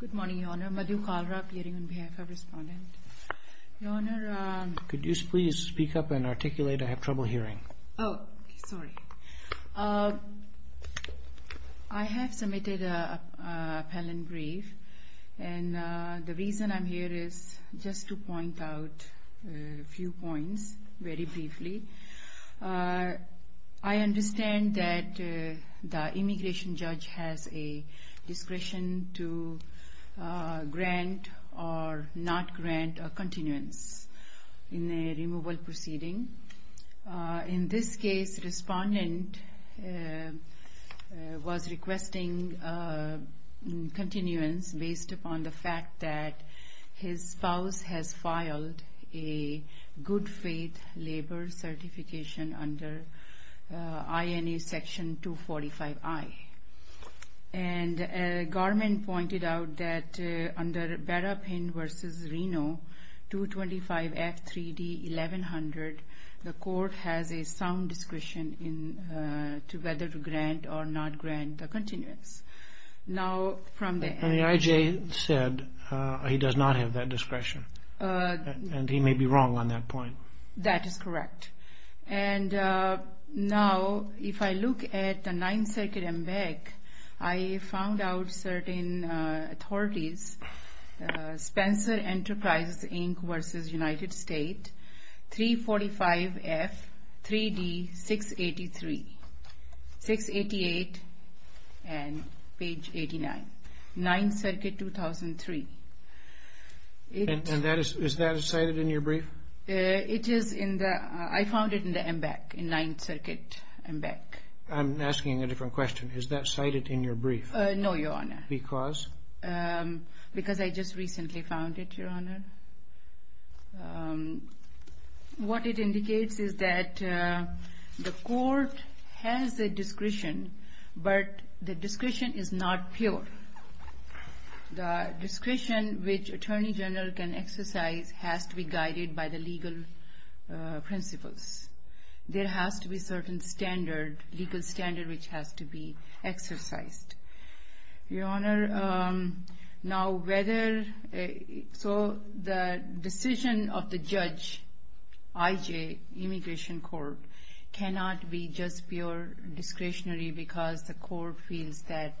Good morning, Your Honor, Madhu Kalra appearing on behalf of Respondent. Could you please speak up and articulate? I have trouble hearing. Oh, sorry. I have submitted an appellate brief, and the reason I'm here is just to point out a few points very briefly. I understand that the immigration judge has a discretion to grant or not grant a continuance in a removal proceeding. In this case, Respondent was requesting a continuance based upon the fact that his spouse has filed a good faith labor certification under INA section 245I. And Garman pointed out that under Berrapin v. Reno 225F 3D 1100, the court has a sound discretion as to whether to grant or not grant a continuance. The IJ said he does not have that discretion, and he may be wrong on that point. That is correct. And now, if I look at the 9th Circuit MBEC, I found out certain authorities, Spencer Enterprises Inc. v. United States, 345F 3D 683, 688 and page 89, 9th Circuit 2003. And is that cited in your brief? I found it in the MBEC, in 9th Circuit MBEC. I'm asking a different question. Is that cited in your brief? No, Your Honor. Because? Because I just recently found it, Your Honor. What it indicates is that the court has a discretion, but the discretion is not pure. The discretion which Attorney General can exercise has to be guided by the legal principles. There has to be a certain standard, legal standard, which has to be exercised. Your Honor, now whether, so the decision of the judge, IJ, Immigration Court, cannot be just pure discretionary because the court feels that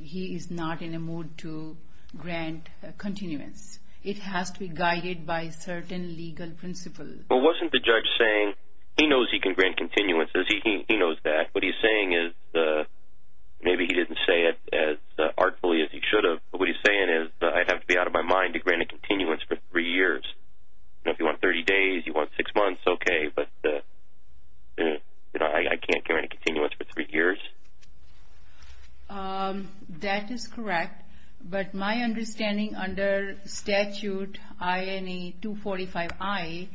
he is not in a mood to grant continuance. It has to be guided by certain legal principles. But wasn't the judge saying, he knows he can grant continuance, he knows that. What he's saying is, maybe he didn't say it as artfully as he should have. But what he's saying is, I'd have to be out of my mind to grant a continuance for three years. Now if you want 30 days, you want six months, okay. But I can't grant a continuance for three years? That is correct. But my understanding under statute INA 245I,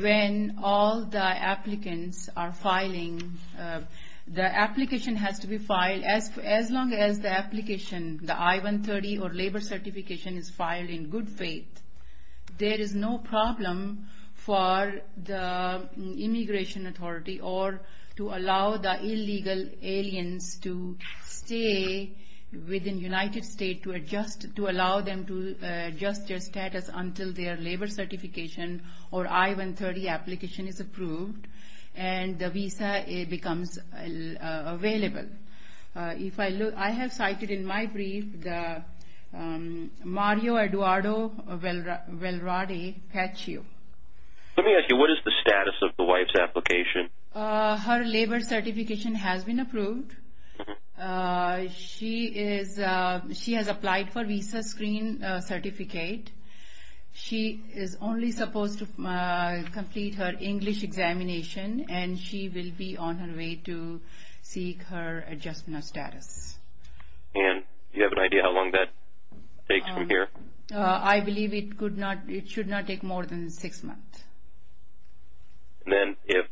when all the applicants are filing, the application has to be filed, as long as the application, the I-130 or labor certification is filed in good faith. There is no problem for the immigration authority or to allow the illegal aliens to stay within United States to adjust, to allow them to adjust their status until their labor certification or I-130 application is approved. And the visa becomes available. If I look, I have cited in my brief the Mario Eduardo Valradi Pachio. Let me ask you, what is the status of the wife's application? Her labor certification has been approved. She is, she has applied for visa screen certificate. She is only supposed to complete her English examination, and she will be on her way to seek her adjustment of status. And do you have an idea how long that takes from here? I believe it could not, it should not take more than six months. Then if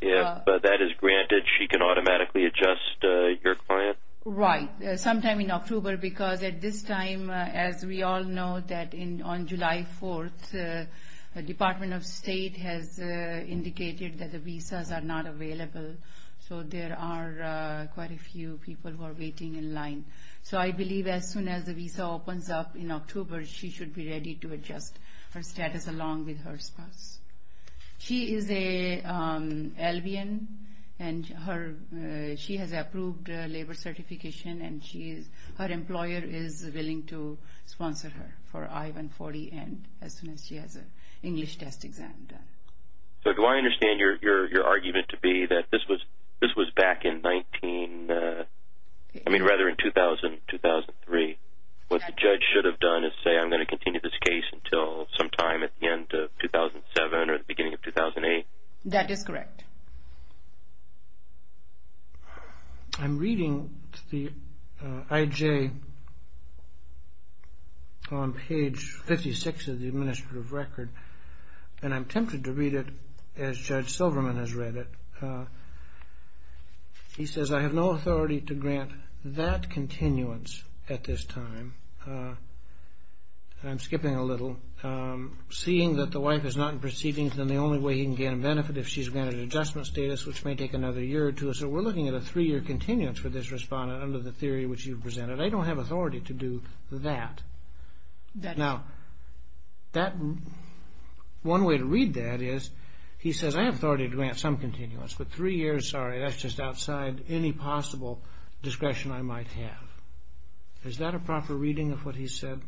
that is granted, she can automatically adjust your client? Right, sometime in October, because at this time, as we all know, that on July 4th, the Department of State has indicated that the visas are not available. So there are quite a few people who are waiting in line. So I believe as soon as the visa opens up in October, she should be ready to adjust her status along with her spouse. She is an Albion, and she has approved labor certification, and her employer is willing to sponsor her for I-140 as soon as she has an English test exam done. So do I understand your argument to be that this was back in 19, I mean rather in 2000, 2003. What the judge should have done is say, I'm going to continue this case until sometime at the end of 2007 or the beginning of 2008. That is correct. I'm reading the IJ on page 56 of the administrative record, and I'm tempted to read it as Judge Silverman has read it. He says, I have no authority to grant that continuance at this time. I'm skipping a little. Seeing that the wife is not in proceedings, then the only way he can gain a benefit if she's granted adjustment status, which may take another year or two. So we're looking at a three-year continuance for this respondent under the theory which you presented. I don't have authority to do that. Now, one way to read that is he says, I have authority to grant some continuance, but three years, sorry, that's just outside any possible discretion I might have. Is that a proper reading of what he said?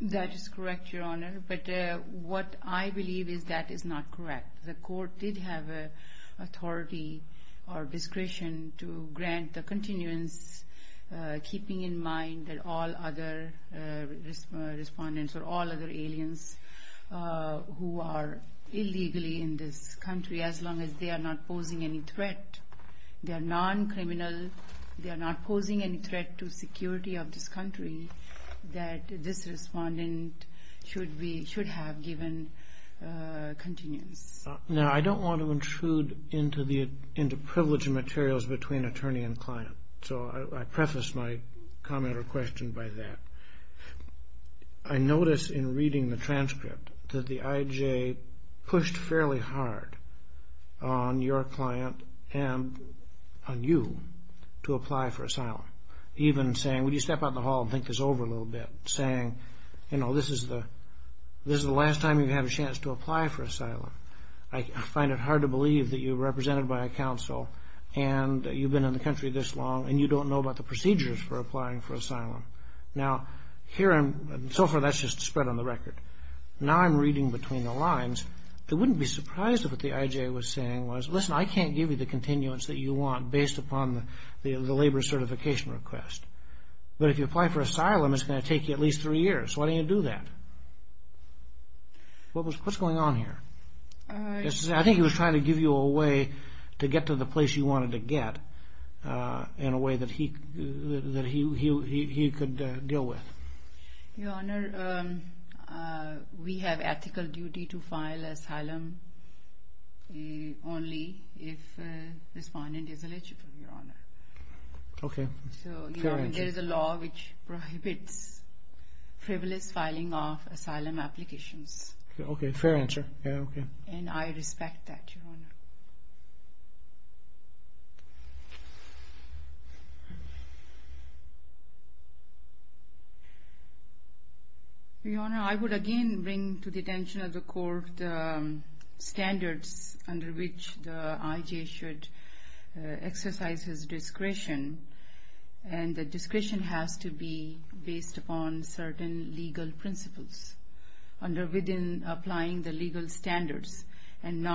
That is correct, Your Honor, but what I believe is that is not correct. The court did have authority or discretion to grant the continuance, keeping in mind that all other respondents or all other aliens who are illegally in this country, as long as they are not posing any threat, they are non-criminal, they are not posing any threat to security of this country, that this respondent should have given continuance. Now, I don't want to intrude into privilege of materials between attorney and client, so I preface my comment or question by that. I notice in reading the transcript that the IJ pushed fairly hard on your client and on you to apply for asylum, even saying, would you step out in the hall and think this over a little bit, saying, you know, this is the last time you have a chance to apply for asylum. I find it hard to believe that you're represented by a counsel and you've been in the country this long and you don't know about the procedures for applying for asylum. Now, here, so far, that's just spread on the record. Now, I'm reading between the lines. It wouldn't be surprised if what the IJ was saying was, listen, I can't give you the continuance that you want based upon the labor certification request. But if you apply for asylum, it's going to take you at least three years. Why didn't you do that? What's going on here? I think he was trying to give you a way to get to the place you wanted to get in a way that he could deal with. Your Honor, we have ethical duty to file asylum only if the respondent is eligible, Your Honor. Okay. Fair answer. There is a law which prohibits frivolous filing of asylum applications. Okay. Fair answer. Your Honor, I would again bring to the attention of the court standards under which the IJ should exercise his discretion. And the discretion has to be based upon certain legal principles within applying the legal standards. And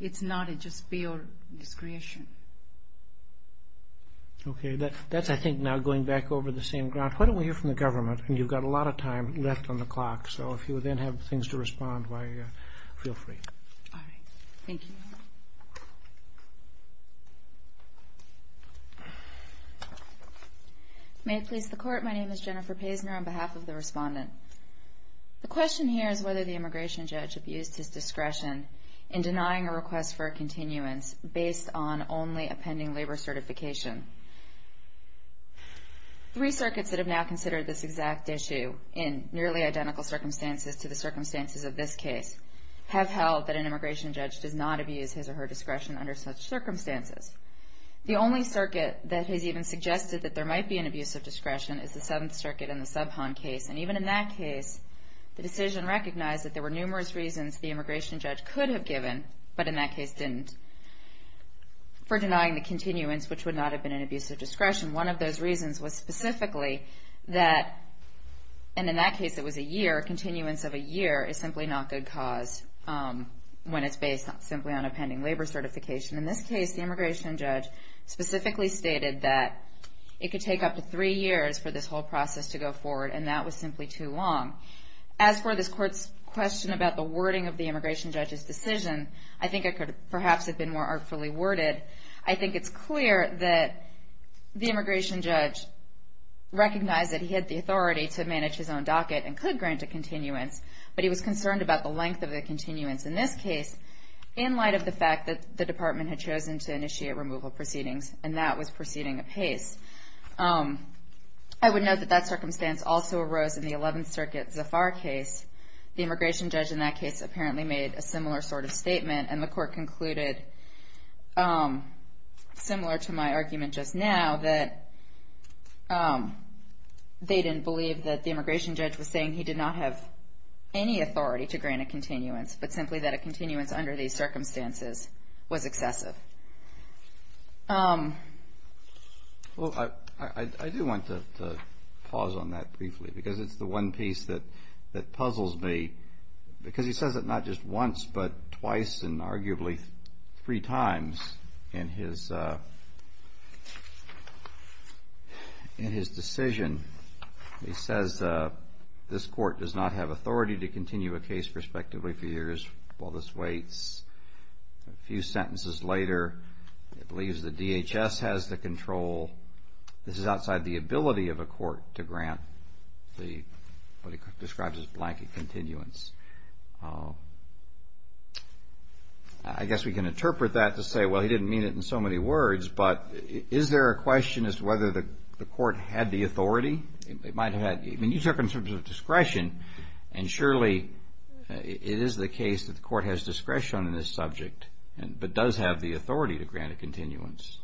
it's not just pure discretion. Okay. That's, I think, now going back over the same ground. Why don't we hear from the government? And you've got a lot of time left on the clock. So if you then have things to respond, feel free. All right. Thank you. May it please the Court, my name is Jennifer Paisner on behalf of the respondent. The question here is whether the immigration judge abused his discretion in denying a request for a continuance based on only a pending labor certification. Three circuits that have now considered this exact issue in nearly identical circumstances to the circumstances of this case have held that an immigration judge does not abuse his or her discretion under such circumstances. The only circuit that has even suggested that there might be an abuse of discretion is the Seventh Circuit in the Subhon case. And even in that case, the decision recognized that there were numerous reasons the immigration judge could have given, but in that case didn't, for denying the continuance, which would not have been an abuse of discretion. One of those reasons was specifically that, and in that case it was a year, a continuance of a year is simply not good cause when it's based simply on a pending labor certification. In this case, the immigration judge specifically stated that it could take up to three years for this whole process to go forward, and that was simply too long. As for this Court's question about the wording of the immigration judge's decision, I think it could perhaps have been more artfully worded. I think it's clear that the immigration judge recognized that he had the authority to manage his own docket and could grant a continuance, but he was concerned about the length of the continuance. In this case, in light of the fact that the department had chosen to initiate removal proceedings, and that was proceeding apace, I would note that that circumstance also arose in the Eleventh Circuit Zafar case. The immigration judge in that case apparently made a similar sort of statement, and the Court concluded, similar to my argument just now, that they didn't believe that the immigration judge was saying he did not have any authority to grant a continuance, but simply that a continuance under these circumstances was excessive. Well, I do want to pause on that briefly, because it's the one piece that puzzles me, because he says it not just once, but twice and arguably three times in his decision. He says this Court does not have authority to continue a case prospectively for years while this waits. A few sentences later, he believes the DHS has the control. This is outside the ability of a court to grant what he describes as blanket continuance. I guess we can interpret that to say, well, he didn't mean it in so many words, but is there a question as to whether the Court had the authority? It might have had. I mean, you took it in terms of discretion, and surely it is the case that the Court has discretion in this subject, but does have the authority to grant a continuance.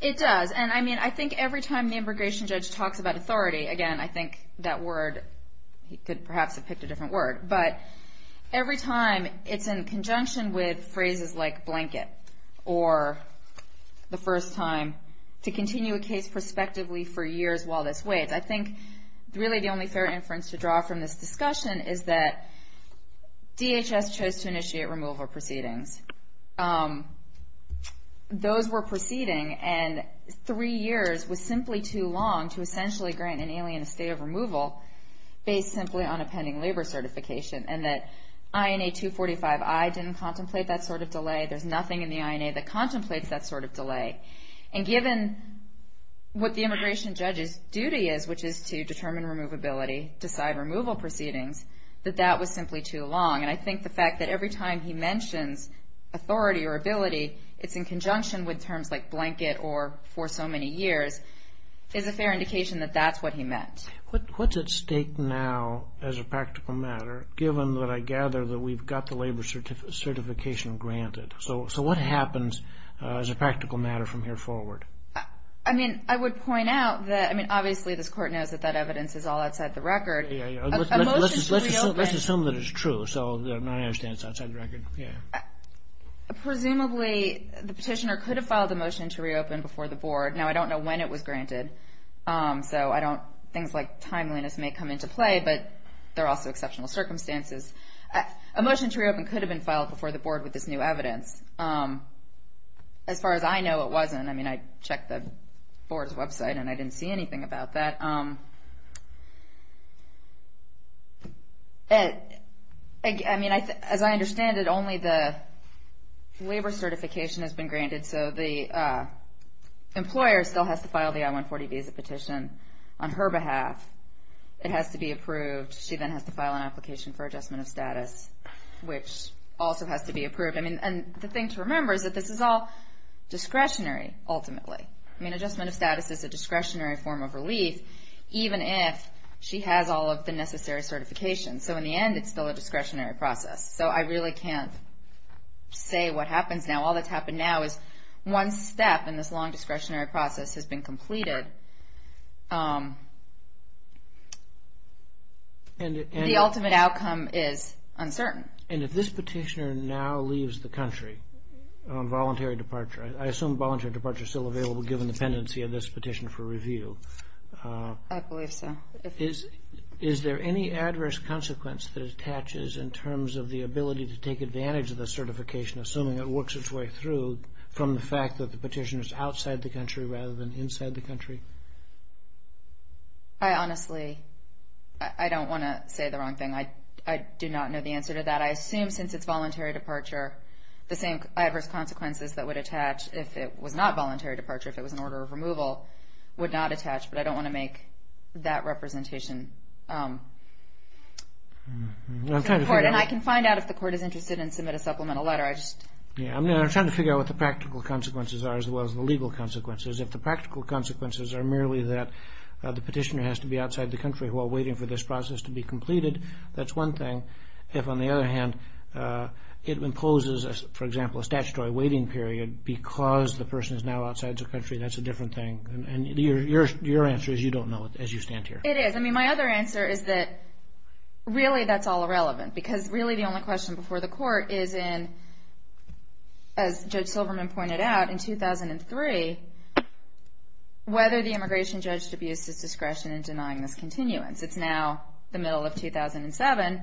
It does, and I mean, I think every time the immigration judge talks about authority, again, I think that word, he could perhaps have picked a different word, but every time it's in conjunction with phrases like blanket or the first time to continue a case prospectively for years while this waits. I think really the only fair inference to draw from this discussion is that DHS chose to initiate removal proceedings. Those were proceeding, and three years was simply too long to essentially grant an alien a state of removal based simply on a pending labor certification, and that INA 245I didn't contemplate that sort of delay. There's nothing in the INA that contemplates that sort of delay, and given what the immigration judge's duty is, which is to determine removability, decide removal proceedings, that that was simply too long, and I think the fact that every time he mentions authority or ability, it's in conjunction with terms like blanket or for so many years, is a fair indication that that's what he meant. What's at stake now as a practical matter, given that I gather that we've got the labor certification granted? So what happens as a practical matter from here forward? I mean, I would point out that, I mean, obviously this court knows that that evidence is all outside the record. Let's assume that it's true, so my understanding is it's outside the record. Presumably the petitioner could have filed a motion to reopen before the board. Now, I don't know when it was granted, so things like timeliness may come into play, but there are also exceptional circumstances. A motion to reopen could have been filed before the board with this new evidence. As far as I know, it wasn't. I mean, I checked the board's website, and I didn't see anything about that. I mean, as I understand it, only the labor certification has been granted, so the employer still has to file the I-140 visa petition on her behalf. It has to be approved. She then has to file an application for adjustment of status, which also has to be approved. And the thing to remember is that this is all discretionary, ultimately. I mean, adjustment of status is a discretionary form of relief, even if she has all of the necessary certifications. So in the end, it's still a discretionary process. So I really can't say what happens now. All that's happened now is one step in this long discretionary process has been completed. The ultimate outcome is uncertain. And if this petitioner now leaves the country on voluntary departure, I assume voluntary departure is still available given the pendency of this petition for review. I believe so. Is there any adverse consequence that attaches in terms of the ability to take advantage of the certification, assuming it works its way through, from the fact that the petitioner is outside the country rather than inside the country? I honestly don't want to say the wrong thing. I do not know the answer to that. I assume since it's voluntary departure, the same adverse consequences that would attach if it was not voluntary departure, if it was an order of removal, would not attach. But I don't want to make that representation. And I can find out if the court is interested and submit a supplemental letter. I'm trying to figure out what the practical consequences are as well as the legal consequences. If the practical consequences are merely that the petitioner has to be outside the country while waiting for this process to be completed, that's one thing. If, on the other hand, it imposes, for example, a statutory waiting period because the person is now outside the country, that's a different thing. And your answer is you don't know it as you stand here. It is. I mean, my other answer is that really that's all irrelevant, because really the only question before the court is in, as Judge Silverman pointed out, in 2003, whether the immigration judge abused his discretion in denying this continuance. It's now the middle of 2007.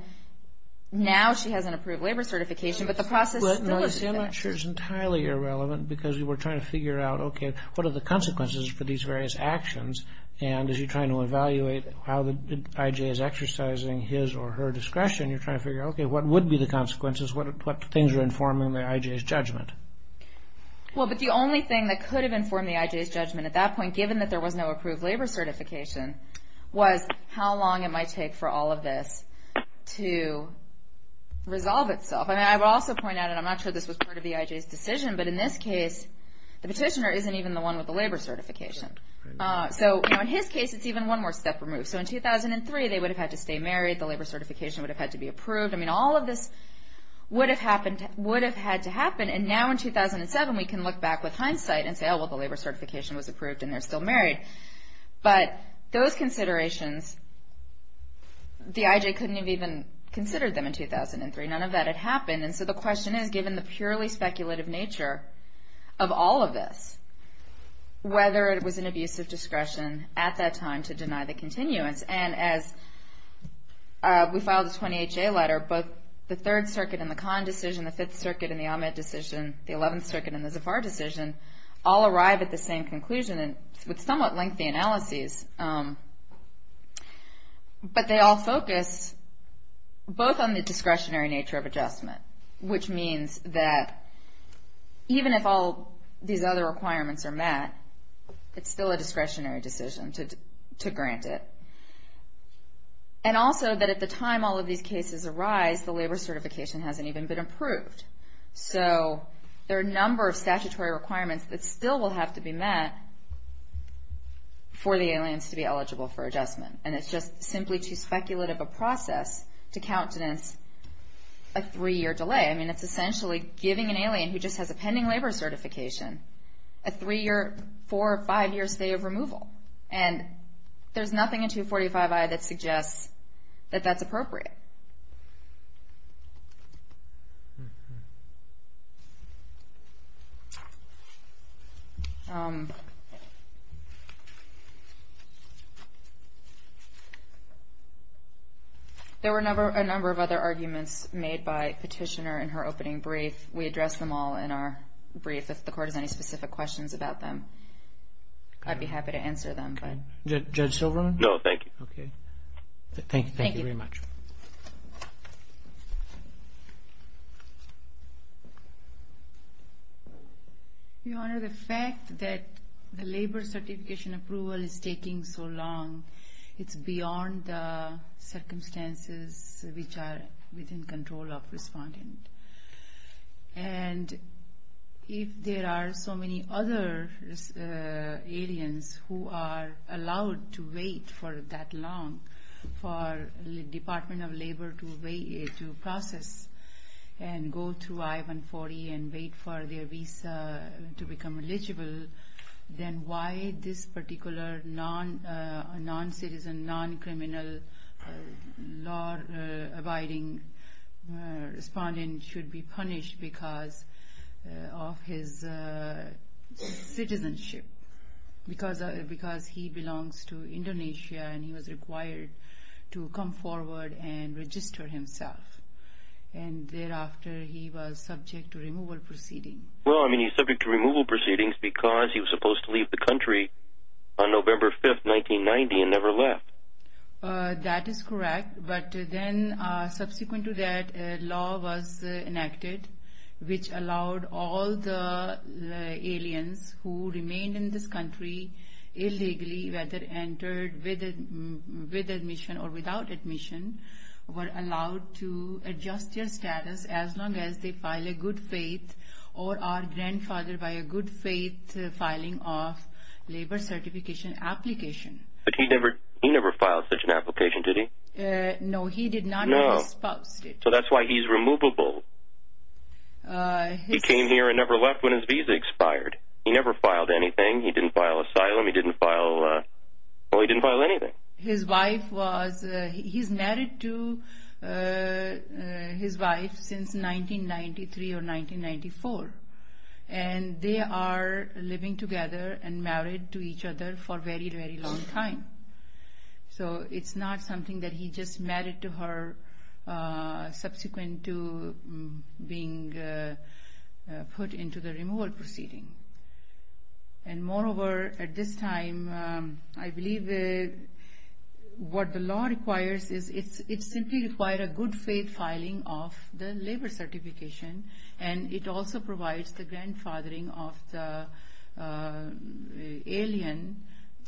Now she has an approved labor certification, but the process still isn't finished. I'm not sure it's entirely irrelevant because we're trying to figure out, okay, what are the consequences for these various actions? And as you're trying to evaluate how the I.J. is exercising his or her discretion, you're trying to figure out, okay, what would be the consequences? What things are informing the I.J.'s judgment? Well, but the only thing that could have informed the I.J.'s judgment at that point, given that there was no approved labor certification, was how long it might take for all of this to resolve itself. I mean, I would also point out, and I'm not sure this was part of the I.J.'s decision, but in this case the petitioner isn't even the one with the labor certification. So, you know, in his case it's even one more step removed. So in 2003 they would have had to stay married, the labor certification would have had to be approved. I mean, all of this would have had to happen, and now in 2007 we can look back with hindsight and say, oh, well, the labor certification was approved and they're still married. But those considerations, the I.J. couldn't have even considered them in 2003. None of that had happened. And so the question is, given the purely speculative nature of all of this, whether it was an abuse of discretion at that time to deny the continuance. And as we filed a 20HA letter, both the Third Circuit and the Kahn decision, the Fifth Circuit and the Ahmed decision, the Eleventh Circuit and the Zafar decision, all arrive at the same conclusion with somewhat lengthy analyses. But they all focus both on the discretionary nature of adjustment, which means that even if all these other requirements are met, it's still a discretionary decision to grant it. And also that at the time all of these cases arise, the labor certification hasn't even been approved. So there are a number of statutory requirements that still will have to be met for the aliens to be eligible for adjustment. And it's just simply too speculative a process to countenance a three-year delay. I mean, it's essentially giving an alien who just has a pending labor certification a three-year, four- or five-year stay of removal. And there's nothing in 245i that suggests that that's appropriate. There were a number of other arguments made by Petitioner in her opening brief. We addressed them all in our brief. If the Court has any specific questions about them, I'd be happy to answer them. Judge Silverman? No, thank you. Okay. Thank you very much. Your Honor, the fact that the labor certification approval is taking so long, it's beyond the circumstances which are within control of respondent. And if there are so many other aliens who are allowed to wait for that long for the Department of Labor to process and go through I-140 and wait for their visa to become eligible, then why this particular non-citizen, non-criminal law-abiding respondent should be punished because of his citizenship? Because he belongs to Indonesia and he was required to come forward and register himself. And thereafter, he was subject to removal proceedings. Well, I mean, he's subject to removal proceedings because he was supposed to leave the country on November 5, 1990, and never left. That is correct, but then subsequent to that, a law was enacted which allowed all the aliens who remained in this country illegally, whether entered with admission or without admission, were allowed to adjust their status as long as they file a good faith or are grandfathered by a good faith filing of labor certification application. But he never filed such an application, did he? No, he did not. No. So that's why he's removable. He came here and never left when his visa expired. He never filed anything. He didn't file asylum. He didn't file anything. His wife was married to his wife since 1993 or 1994, and they are living together and married to each other for a very, very long time. So it's not something that he just married to her subsequent to being put into the removal proceeding. And moreover, at this time, I believe what the law requires is it simply requires a good faith filing of the labor certification, and it also provides the grandfathering of the alien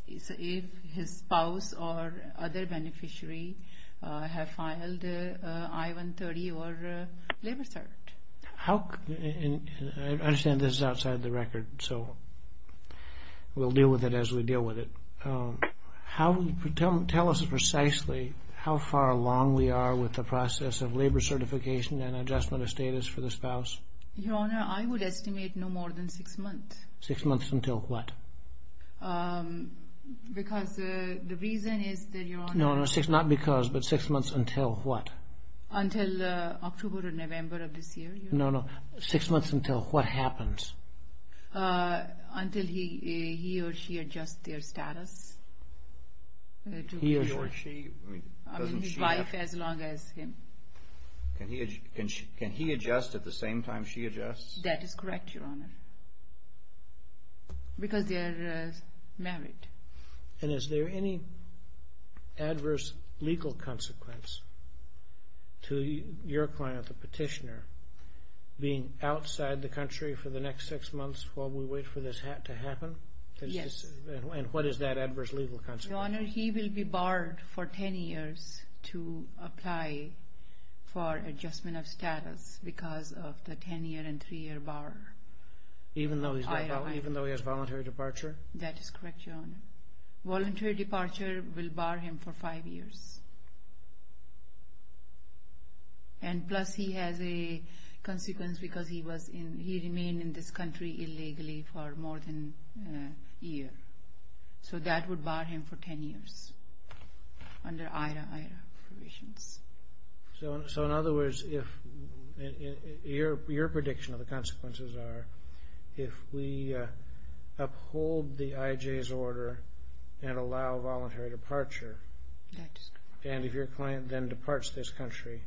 if his spouse or other beneficiary have filed I-130 or labor cert. I understand this is outside the record, so we'll deal with it as we deal with it. Tell us precisely how far along we are with the process of labor certification and adjustment of status for the spouse. Your Honor, I would estimate no more than six months. Six months until what? Because the reason is that, Your Honor... No, not because, but six months until what? Until October or November of this year. No, no. Six months until what happens? Until he or she adjusts their status. He or she? I mean, his wife as long as him. Can he adjust at the same time she adjusts? That is correct, Your Honor. Because they are married. And is there any adverse legal consequence to your client, the petitioner, being outside the country for the next six months while we wait for this to happen? Yes. And what is that adverse legal consequence? Your Honor, he will be barred for 10 years to apply for adjustment of status because of the 10-year and 3-year bar. Even though he has voluntary departure? That is correct, Your Honor. Voluntary departure will bar him for five years. And plus he has a consequence because he remained in this country illegally for more than a year. So that would bar him for 10 years under IHRA provisions. So in other words, your prediction of the consequences are if we uphold the IJ's order and allow voluntary departure and if your client then departs this country,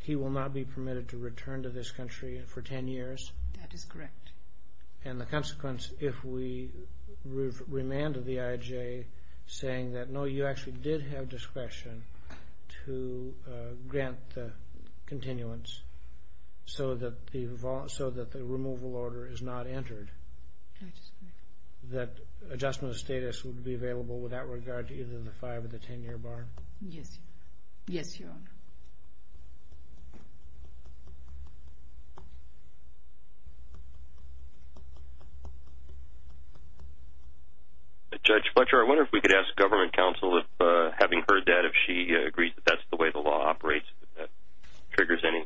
he will not be permitted to return to this country for 10 years? That is correct. And the consequence if we remanded the IJ saying that, no, you actually did have discretion to grant the continuance so that the removal order is not entered, that adjustment of status would be available without regard to either the five or the 10-year bar? Yes, Your Honor. Judge Fletcher, I wonder if we could ask government counsel, if having heard that, if she agrees that that's the way the law operates, if that triggers any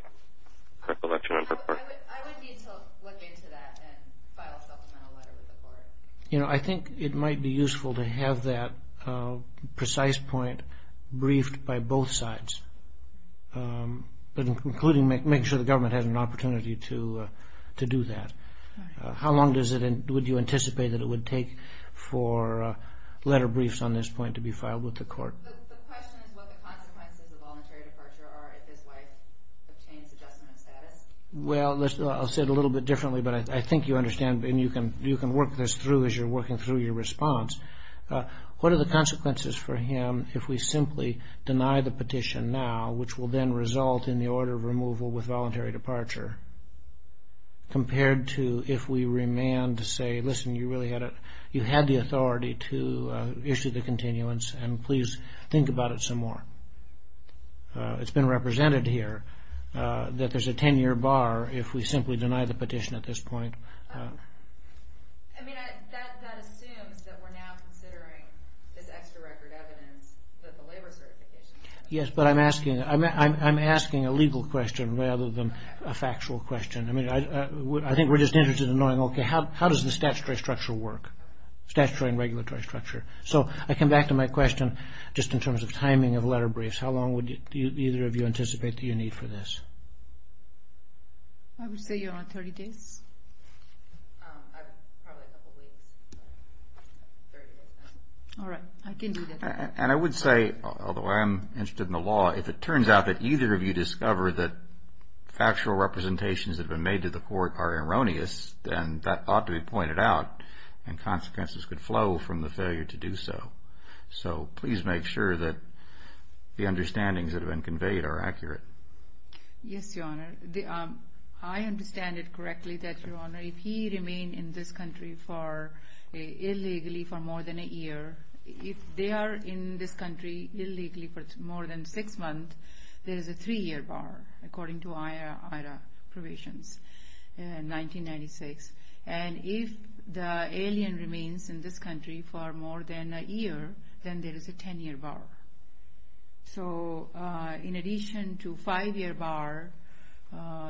recollection on her part. I would need to look into that and file a supplemental letter with the court. You know, I think it might be useful to have that precise point briefed by both sides, including making sure the government has an opportunity to do that. How long would you anticipate that it would take for letter briefs on this point to be filed with the court? The question is what the consequences of voluntary departure are if his wife obtains adjustment of status. Well, I'll say it a little bit differently, but I think you understand and you can work this through as you're working through your response. What are the consequences for him if we simply deny the petition now, which will then result in the order of removal with voluntary departure, compared to if we remand to say, listen, you had the authority to issue the continuance and please think about it some more. It's been represented here that there's a 10-year bar if we simply deny the petition at this point. I mean, that assumes that we're now considering this extra record evidence that the labor certification. Yes, but I'm asking a legal question rather than a factual question. I mean, I think we're just interested in knowing, okay, how does the statutory structure work? Statutory and regulatory structure. So I come back to my question just in terms of timing of letter briefs. How long would either of you anticipate that you need for this? I would say around 30 days. Probably a couple of weeks. All right, I can do that. And I would say, although I am interested in the law, if it turns out that either of you discover that factual representations have been made to the court are erroneous, then that ought to be pointed out and consequences could flow from the failure to do so. So please make sure that the understandings that have been conveyed are accurate. Yes, Your Honor. I understand it correctly that, Your Honor, if he remained in this country illegally for more than a year, if they are in this country illegally for more than six months, there is a three-year bar according to IRA provisions in 1996. And if the alien remains in this country for more than a year, then there is a 10-year bar. So in addition to five-year bar,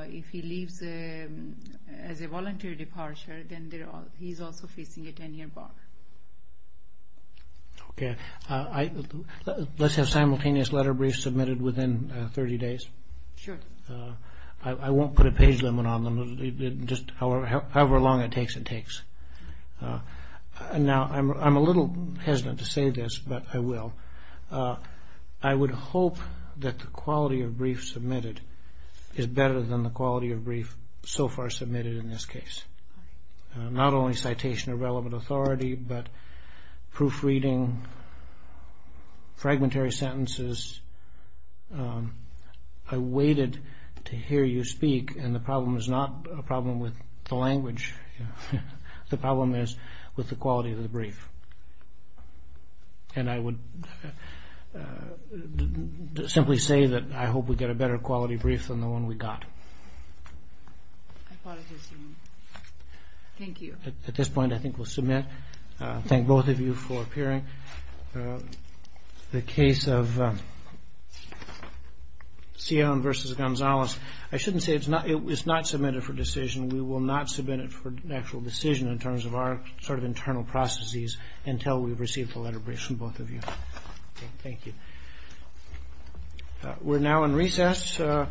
if he leaves as a voluntary departure, then he is also facing a 10-year bar. Okay. Let's have simultaneous letter briefs submitted within 30 days. Sure. I won't put a page limit on them, just however long it takes. Now, I'm a little hesitant to say this, but I will. I would hope that the quality of brief submitted is better than the quality of brief so far submitted in this case. Not only citation of relevant authority, but proofreading, fragmentary sentences. I waited to hear you speak, and the problem is not a problem with the language. The problem is with the quality of the brief. And I would simply say that I hope we get a better quality brief than the one we got. I apologize, Your Honor. Thank you. At this point, I think we'll submit. Thank both of you for appearing. The case of Cione v. Gonzalez, I shouldn't say it's not submitted for decision. We will not submit it for an actual decision in terms of our sort of internal processes until we've received the letter brief from both of you. Thank you. We're now in recess. This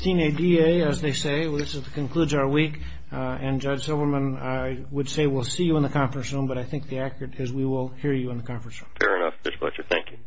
concludes our week, and Judge Silverman, I would say we'll see you in the conference room, but I think the accurate is we will hear you in the conference room. Fair enough, Mr. Fletcher. Thank you.